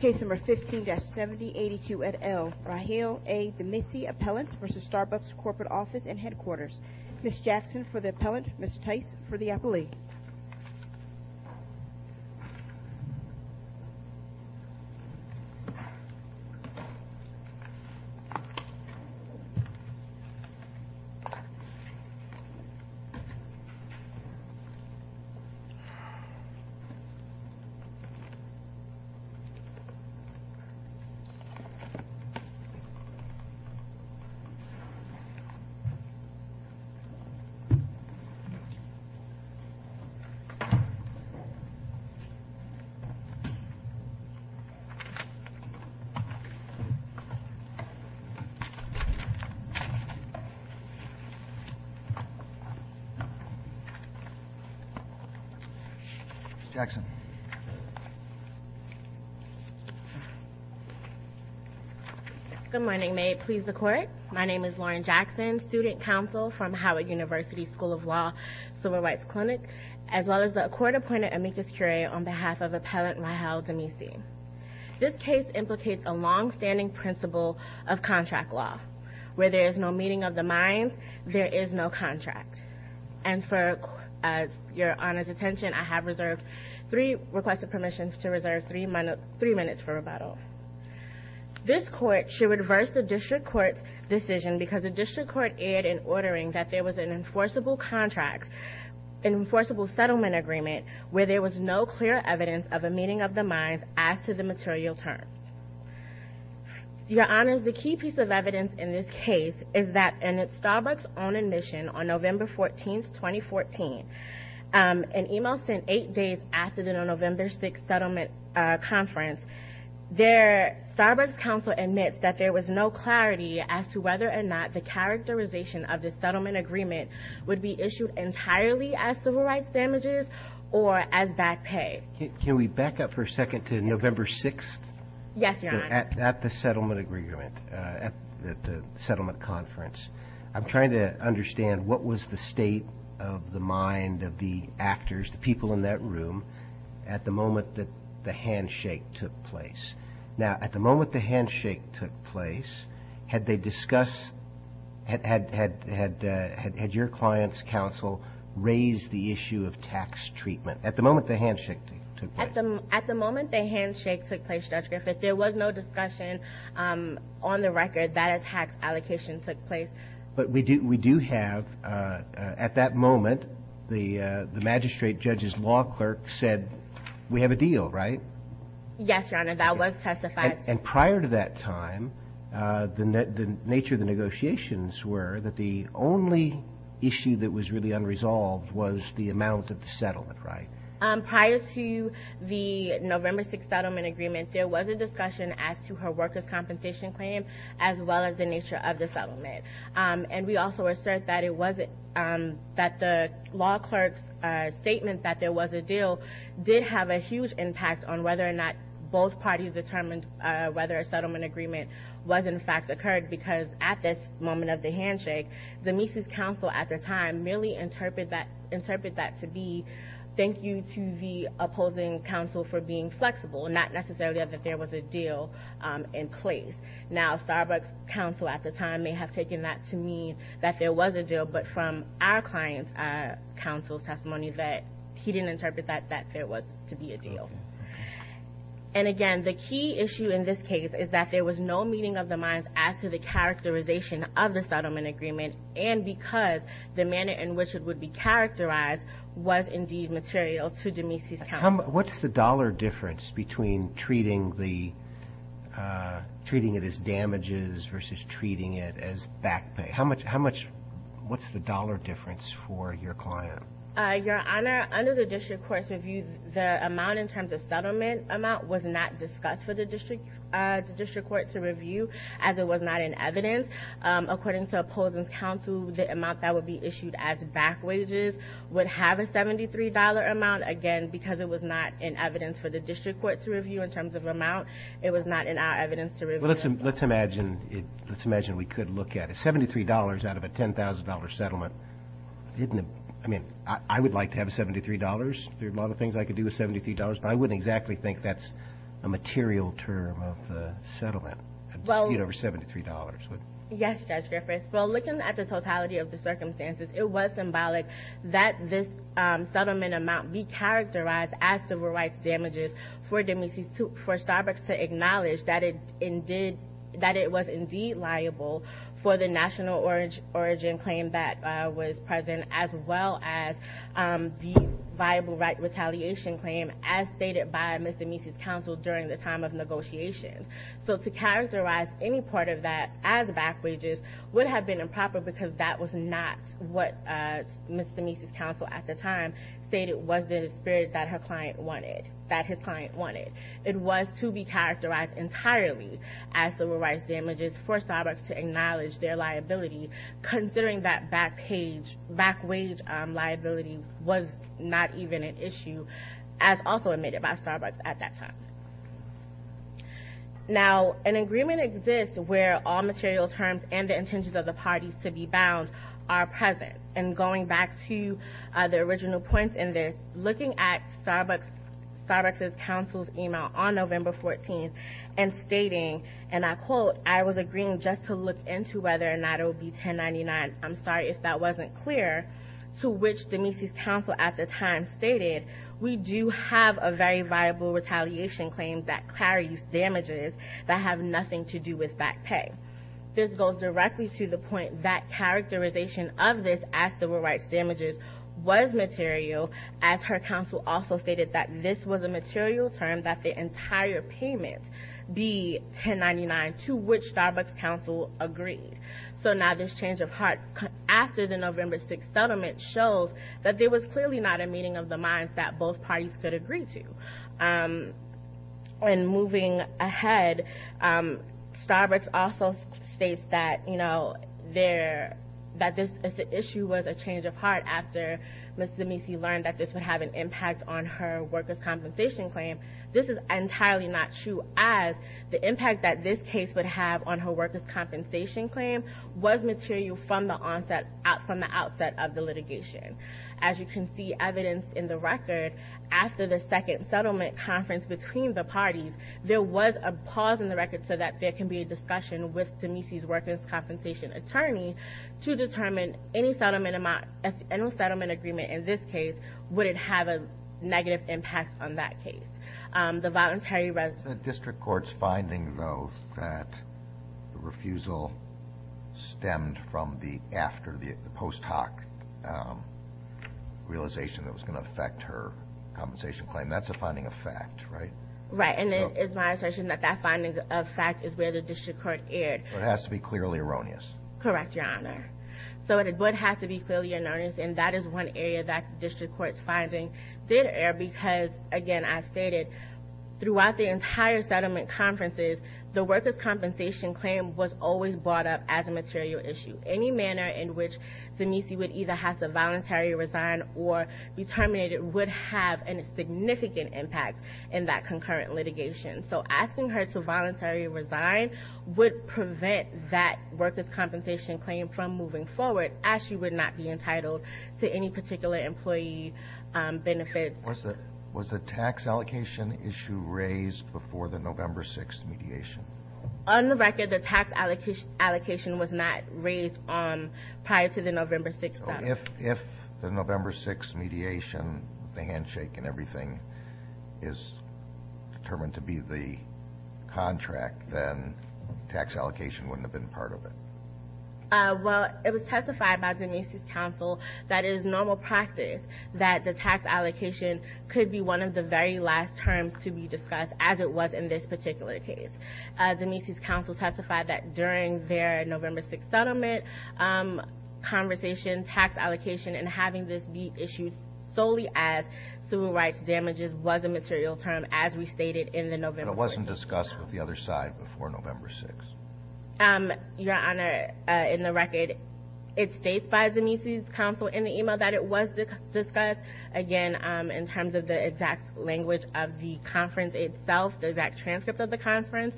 Case No. 15-7082 at L. Rahel A. Demissie, Appellant v. Starbucks Corporate Office and Headquarters Ms. Jackson for the Appellant, Ms. Tice for the Appellee Ms. Jackson Good morning, may it please the Court. My name is Lauren Jackson, Student Counsel from Howard University School of Law, Civil Rights Clinic, as well as the Court-Appointed Amicus Curiae on behalf of Appellant Rahel Demissie. This case implicates a long-standing principle of contract law. Where there is no meeting of the minds, there is no contract. And for your Honor's attention, I have reserved three requests of permissions to reserve three minutes for rebuttal. This Court should reverse the District Court's decision because the District Court erred in ordering that there was an enforceable contract, an enforceable settlement agreement, where there was no clear evidence of a meeting of the minds as to the material terms. Your Honor, the key piece of evidence in this case is that in a Starbucks-owned admission on November 14, 2014, an email sent eight days after the November 6th settlement conference, their Starbucks counsel admits that there was no clarity as to whether or not the characterization of the settlement agreement would be issued entirely as civil rights damages or as back pay. Can we back up for a second to November 6th? Yes, Your Honor. At the settlement agreement, at the settlement conference, I'm trying to understand what was the state of the mind of the actors, the people in that room, at the moment that the handshake took place. Now, at the moment the handshake took place, had they discussed, had your client's counsel raised the issue of tax treatment at the moment the handshake took place? At the moment the handshake took place, Judge Griffith, there was no discussion on the record that a tax allocation took place. But we do have, at that moment, the magistrate judge's law clerk said, we have a deal, right? Yes, Your Honor. That was testified. And prior to that time, the nature of the negotiations were that the only issue that was really unresolved was the amount of the settlement, right? Prior to the November 6th settlement agreement, there was a discussion as to her workers' compensation claim as well as the nature of the settlement. And we also assert that the law clerk's statement that there was a deal did have a huge impact on whether or not both parties determined whether a settlement agreement was, in fact, occurred. Because at this moment of the handshake, Denise's counsel at the time merely interpreted that to be thank you to the opposing counsel for being flexible, not necessarily that there was a deal in place. Now, Starbucks' counsel at the time may have taken that to mean that there was a deal, but from our client's counsel's testimony that he didn't interpret that there was to be a deal. And again, the key issue in this case is that there was no meeting of the minds as to the characterization of the settlement agreement, and because the manner in which it would be characterized was indeed material to Denise's counsel. What's the dollar difference between treating it as damages versus treating it as back pay? What's the dollar difference for your client? Your Honor, under the district court's review, the amount in terms of settlement amount was not discussed for the district court to review as it was not in evidence. According to opposing counsel, the amount that would be issued as back wages would have a $73 amount. Again, because it was not in evidence for the district court to review in terms of amount, it was not in our evidence to review. Well, let's imagine we could look at it. $73 out of a $10,000 settlement, I mean, I would like to have $73. There are a lot of things I could do with $73, but I wouldn't exactly think that's a material term of the settlement. I'd dispute over $73. Yes, Judge Griffith. Well, looking at the totality of the circumstances, it was symbolic that this settlement amount be characterized as civil rights damages for Starbucks to acknowledge that it was indeed liable for the national origin claim that was present, as well as the viable right retaliation claim as stated by Ms. Denise's counsel during the time of negotiations. So to characterize any part of that as back wages would have been improper because that was not what Ms. Denise's counsel at the time stated was the spirit that her client wanted, that his client wanted. It was to be characterized entirely as civil rights damages for Starbucks to acknowledge their liability, considering that back wage liability was not even an issue as also admitted by Starbucks at that time. Now, an agreement exists where all material terms and the intentions of the parties to be bound are present. And going back to the original points in this, looking at Starbucks' counsel's email on November 14th and stating, and I quote, I was agreeing just to look into whether or not it would be 1099. I'm sorry if that wasn't clear, to which Denise's counsel at the time stated, we do have a very viable retaliation claim that carries damages that have nothing to do with back pay. This goes directly to the point that characterization of this as civil rights damages was material, as her counsel also stated that this was a material term that the entire payment be 1099, to which Starbucks' counsel agreed. So now this change of heart after the November 6th settlement shows that there was clearly not a meeting of the minds that both parties could agree to. And moving ahead, Starbucks also states that, you know, that this issue was a change of heart after Ms. Demese learned that this would have an impact on her workers' compensation claim. This is entirely not true as the impact that this case would have on her workers' compensation claim was material from the onset, from the outset of the litigation. As you can see evidence in the record, after the second settlement conference between the parties, there was a pause in the record so that there can be a discussion with Demese's workers' compensation attorney to determine any settlement agreement in this case, would it have a negative impact on that case. The voluntary resolution. The district court's finding, though, that the refusal stemmed from the after, the post hoc realization that was going to affect her compensation claim. That's a finding of fact, right? Right, and it is my assertion that that finding of fact is where the district court erred. It has to be clearly erroneous. Correct, Your Honor. So it would have to be clearly erroneous, and that is one area that the district court's finding did err because, again, I stated, throughout the entire settlement conferences, the workers' compensation claim was always brought up as a material issue. Any manner in which Demese would either have to voluntarily resign or be terminated would have a significant impact in that concurrent litigation. So asking her to voluntarily resign would prevent that workers' compensation claim from moving forward, as she would not be entitled to any particular employee benefits. Was the tax allocation issue raised before the November 6th mediation? On the record, the tax allocation was not raised prior to the November 6th settlement. If the November 6th mediation, the handshake and everything, is determined to be the contract, then tax allocation wouldn't have been part of it. Well, it was testified by Demese's counsel that it is normal practice that the tax allocation could be one of the very last terms to be discussed, as it was in this particular case. Demese's counsel testified that during their November 6th settlement conversation, tax allocation and having this be issued solely as civil rights damages was a material term, as we stated in the November 4th settlement. But it wasn't discussed with the other side before November 6th? Your Honor, in the record, it states by Demese's counsel in the email that it was discussed, again, in terms of the exact language of the conference itself, the exact transcript of the conference.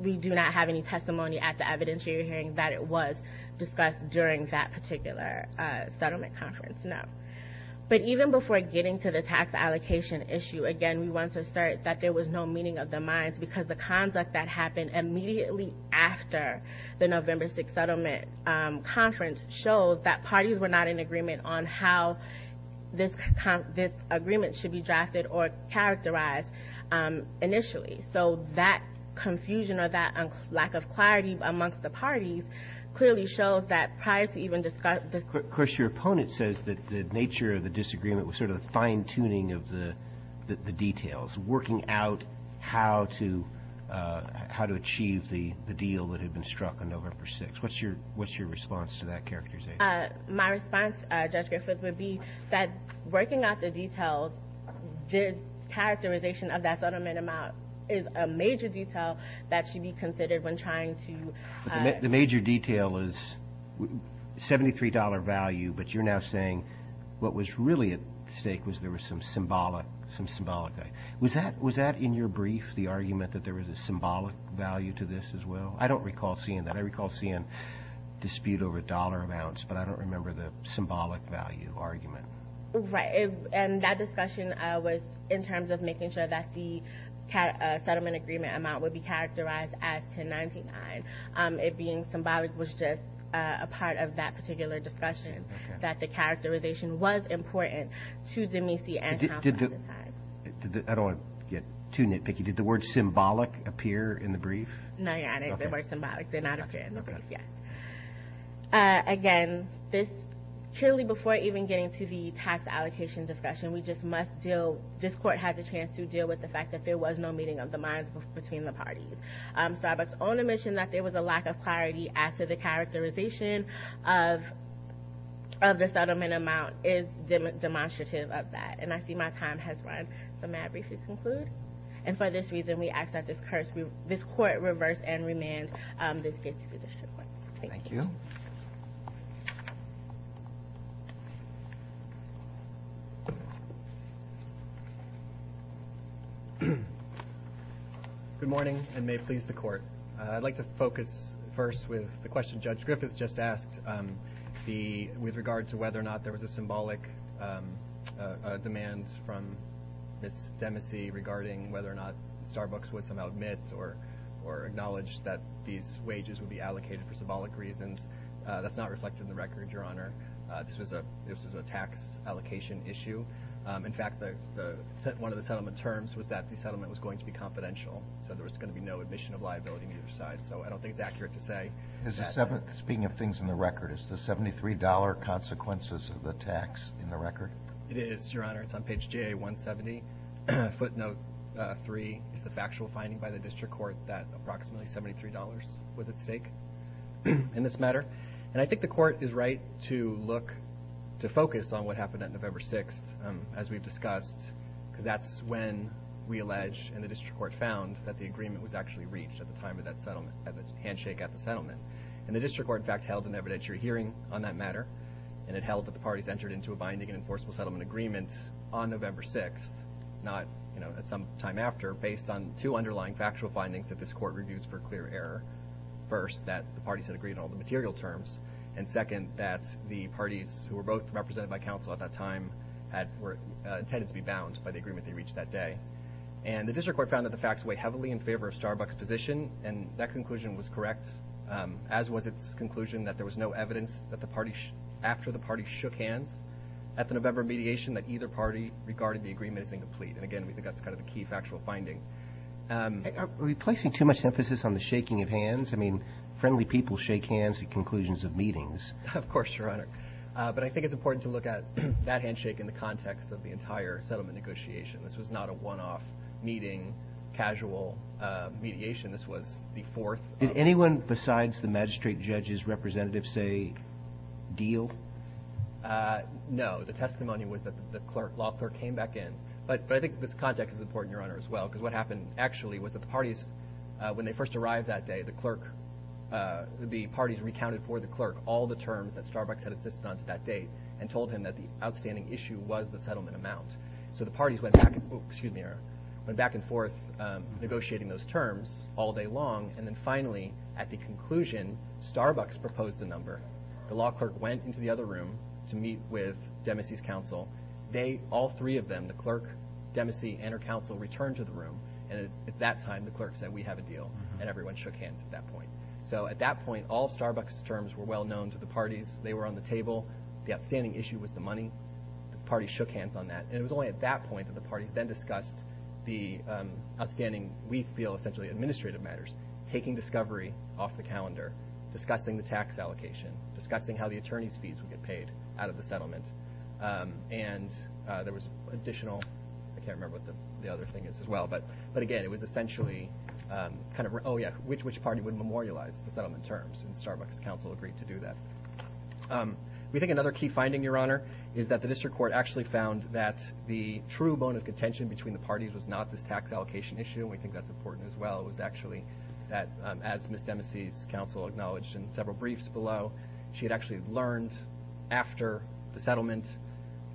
We do not have any testimony at the evidentiary hearing that it was discussed during that particular settlement conference, no. But even before getting to the tax allocation issue, again, we want to assert that there was no meeting of the minds, because the conduct that happened immediately after the November 6th settlement conference shows that parties were not in agreement on how this agreement should be drafted or characterized initially. So that confusion or that lack of clarity amongst the parties clearly shows that prior to even discussing it. Of course, your opponent says that the nature of the disagreement was sort of a fine-tuning of the details, working out how to achieve the deal that had been struck on November 6th. What's your response to that characterization? My response, Judge Griffith, would be that working out the details, the characterization of that settlement amount is a major detail that should be considered when trying to – The major detail is $73 value, but you're now saying what was really at stake was there was some symbolic – some symbolic value. Was that in your brief, the argument that there was a symbolic value to this as well? I don't recall seeing that. I recall seeing dispute over dollar amounts, but I don't remember the symbolic value argument. Right. And that discussion was in terms of making sure that the settlement agreement amount would be characterized as 1099. It being symbolic was just a part of that particular discussion, that the characterization was important to Demesey and Compton at the time. I don't want to get too nitpicky. Did the word symbolic appear in the brief? No, Your Honor, the word symbolic did not appear in the brief, yes. Again, purely before even getting to the tax allocation discussion, we just must deal – this Court has a chance to deal with the fact that there was no meeting of the minds between the parties. Starbucks' own admission that there was a lack of clarity after the characterization of the settlement amount is demonstrative of that, and I see my time has run. So may I briefly conclude? And for this reason, we ask that this Court reverse and remand this case to the district court. Thank you. Good morning, and may it please the Court. I'd like to focus first with the question Judge Griffith just asked with regard to whether or not there was a symbolic demand from Ms. Demesey regarding whether or not Starbucks would somehow admit or acknowledge that these wages would be allocated for symbolic reasons. That's not reflected in the record, Your Honor. This was a tax allocation issue. In fact, one of the settlement terms was that the settlement was going to be confidential, so there was going to be no admission of liability on either side. So I don't think it's accurate to say that. Speaking of things in the record, is the $73 consequences of the tax in the record? It is, Your Honor. It's on page JA-170. Footnote 3 is the factual finding by the district court that approximately $73 was at stake in this matter. And I think the Court is right to look to focus on what happened on November 6th, as we've discussed, because that's when we allege and the district court found that the agreement was actually reached at the time of that settlement, at the handshake at the settlement. And the district court, in fact, held an evidentiary hearing on that matter, and it held that the parties entered into a binding and enforceable settlement agreement on November 6th, not at some time after, based on two underlying factual findings that this Court reviews for clear error. First, that the parties had agreed on all the material terms, and second, that the parties who were both represented by counsel at that time were intended to be bound by the agreement they reached that day. And the district court found that the facts weigh heavily in favor of Starbuck's position, and that conclusion was correct, as was its conclusion that there was no evidence after the parties shook hands at the November mediation that either party regarded the agreement as incomplete. And, again, we think that's kind of the key factual finding. Are we placing too much emphasis on the shaking of hands? I mean, friendly people shake hands at conclusions of meetings. Of course, Your Honor. But I think it's important to look at that handshake in the context of the entire settlement negotiation. This was not a one-off meeting, casual mediation. This was the fourth. Did anyone besides the magistrate judge's representatives say deal? No. The testimony was that the clerk, law clerk, came back in. But I think this context is important, Your Honor, as well, because what happened actually was that the parties, when they first arrived that day, the clerk, the parties recounted for the clerk all the terms that Starbuck's had insisted on to that date and told him that the outstanding issue was the settlement amount. So the parties went back and forth negotiating those terms, all day long, and then finally, at the conclusion, Starbuck's proposed a number. The law clerk went into the other room to meet with Demacy's counsel. They, all three of them, the clerk, Demacy, and her counsel, returned to the room. And at that time, the clerk said, we have a deal. And everyone shook hands at that point. So at that point, all Starbuck's terms were well known to the parties. They were on the table. The outstanding issue was the money. The parties shook hands on that. And it was only at that point that the parties then discussed the outstanding, we feel essentially administrative matters, taking discovery off the calendar, discussing the tax allocation, discussing how the attorney's fees would get paid out of the settlement. And there was additional, I can't remember what the other thing is as well, but again, it was essentially kind of, oh, yeah, which party would memorialize the settlement terms, and Starbuck's counsel agreed to do that. We think another key finding, Your Honor, is that the district court actually found that the true bone of contention between the parties was not this tax allocation issue, and we think that's important as well. It was actually that, as Ms. Demacy's counsel acknowledged in several briefs below, she had actually learned after the settlement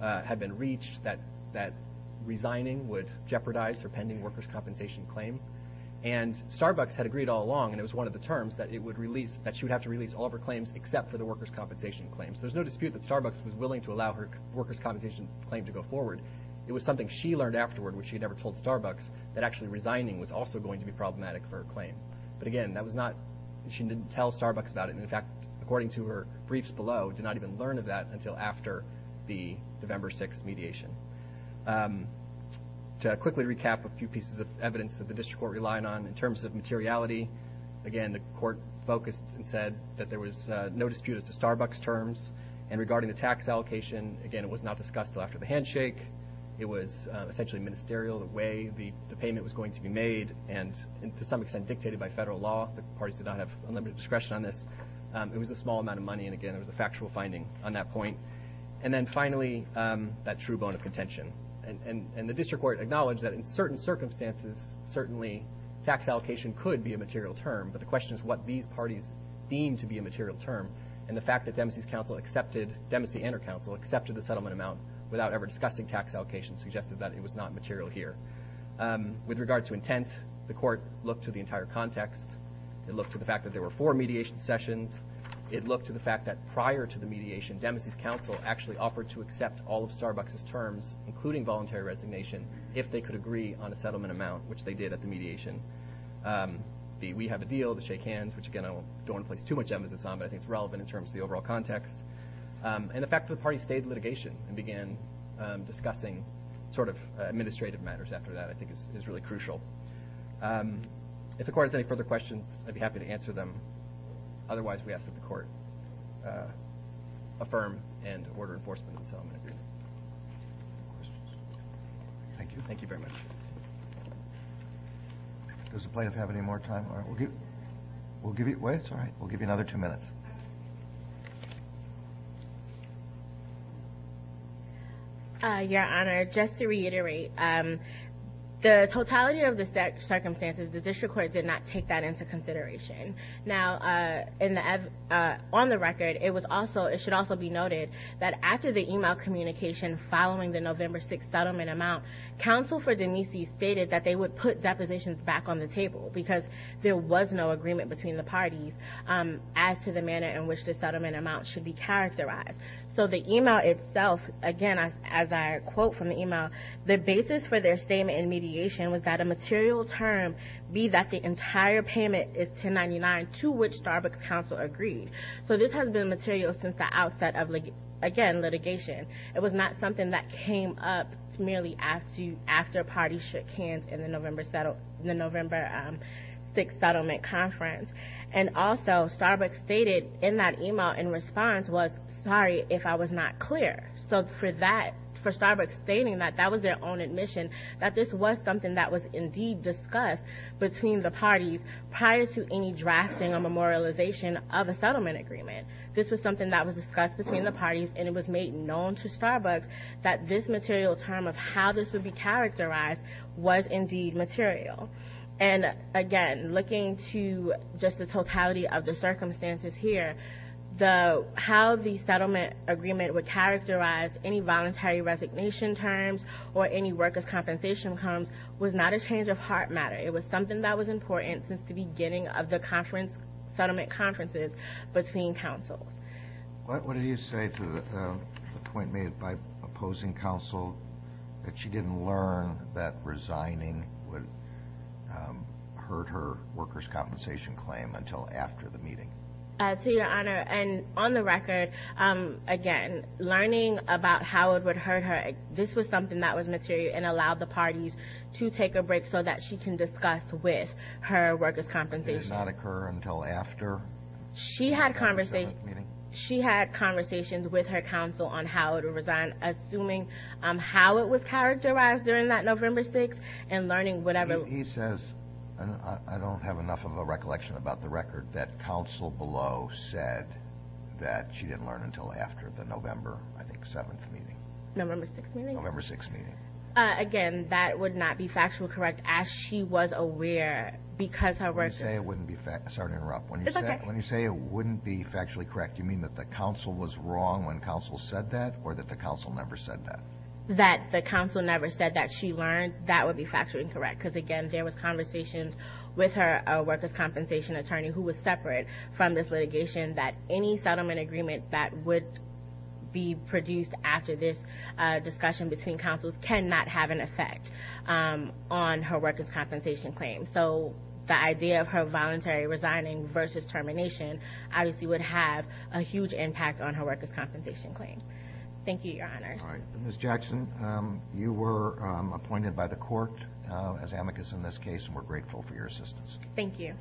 had been reached that resigning would jeopardize her pending workers' compensation claim. And Starbuck's had agreed all along, and it was one of the terms, that it would release, that she would have to release all of her claims except for the workers' compensation claims. There's no dispute that Starbuck's was willing to allow her workers' compensation claim to go forward. It was something she learned afterward, which she had never told Starbuck's, that actually resigning was also going to be problematic for her claim. But again, that was not, she didn't tell Starbuck's about it, and in fact, according to her briefs below, did not even learn of that until after the November 6th mediation. To quickly recap a few pieces of evidence that the district court relied on, in terms of materiality, again, the court focused and said that there was no dispute as to Starbuck's terms, and regarding the tax allocation, again, it was not discussed until after the handshake. It was essentially ministerial, the way the payment was going to be made, and to some extent dictated by federal law. The parties did not have unlimited discretion on this. It was a small amount of money, and again, it was a factual finding on that point. And then finally, that true bone of contention. And the district court acknowledged that in certain circumstances, certainly tax allocation could be a material term, but the question is what these parties deem to be a material term, and the fact that Dempsey and her counsel accepted the settlement amount without ever discussing tax allocation suggested that it was not material here. With regard to intent, the court looked to the entire context. It looked to the fact that there were four mediation sessions. It looked to the fact that prior to the mediation, Dempsey's counsel actually offered to accept all of Starbuck's terms, including voluntary resignation, if they could agree on a settlement amount, which they did at the mediation. The we have a deal, the shake hands, which again, I don't want to place too much emphasis on, but I think it's relevant in terms of the overall context. And the fact that the parties stayed in litigation and began discussing sort of administrative matters after that I think is really crucial. If the court has any further questions, I'd be happy to answer them. Otherwise, we ask that the court affirm and order enforcement of the settlement agreement. Thank you. Thank you very much. Does the plaintiff have any more time? We'll give you another two minutes. Your Honor, just to reiterate, the totality of the circumstances, the district court did not take that into consideration. Now, on the record, it should also be noted that after the email communication following the November 6th settlement amount, counsel for Dempsey stated that they would put depositions back on the table because there was no agreement between the parties as to the manner in which the settlement amount should be characterized. So the email itself, again, as I quote from the email, the basis for their statement in mediation was that a material term be that the entire payment is 1099, to which Starbucks counsel agreed. So this has been material since the outset of, again, litigation. It was not something that came up merely after parties shook hands in the November 6th settlement conference. And also, Starbucks stated in that email in response was, sorry if I was not clear. So for Starbucks stating that, that was their own admission, that this was something that was indeed discussed between the parties prior to any drafting or memorialization of a settlement agreement. This was something that was discussed between the parties, and it was made known to Starbucks that this material term of how this would be characterized was indeed material. And, again, looking to just the totality of the circumstances here, how the settlement agreement would characterize any voluntary resignation terms or any workers' compensation terms was not a change of heart matter. It was something that was important since the beginning of the conference, settlement conferences between counsels. What did you say to the point made by opposing counsel that she didn't learn that resigning would hurt her workers' compensation claim until after the meeting? To your honor, and on the record, again, learning about how it would hurt her, this was something that was material and allowed the parties to take a break so that she can discuss with her workers' compensation. Did it not occur until after the November 7th meeting? She had conversations with her counsel on how to resign, assuming how it was characterized during that November 6th and learning whatever. He says, and I don't have enough of a recollection about the record, that counsel below said that she didn't learn until after the November, I think, 7th meeting. November 6th meeting? November 6th meeting. Again, that would not be factually correct as she was aware because her workers' When you say it wouldn't be factually correct, you mean that the counsel was wrong when counsel said that or that the counsel never said that? That the counsel never said that she learned, that would be factually incorrect because, again, there was conversations with her workers' compensation attorney who was separate from this litigation that any settlement agreement that would be produced after this discussion between counsels cannot have an effect on her workers' compensation claim. So the idea of her voluntary resigning versus termination obviously would have a huge impact on her workers' compensation claim. Thank you, Your Honors. All right. Ms. Jackson, you were appointed by the court as amicus in this case, and we're grateful for your assistance. Thank you.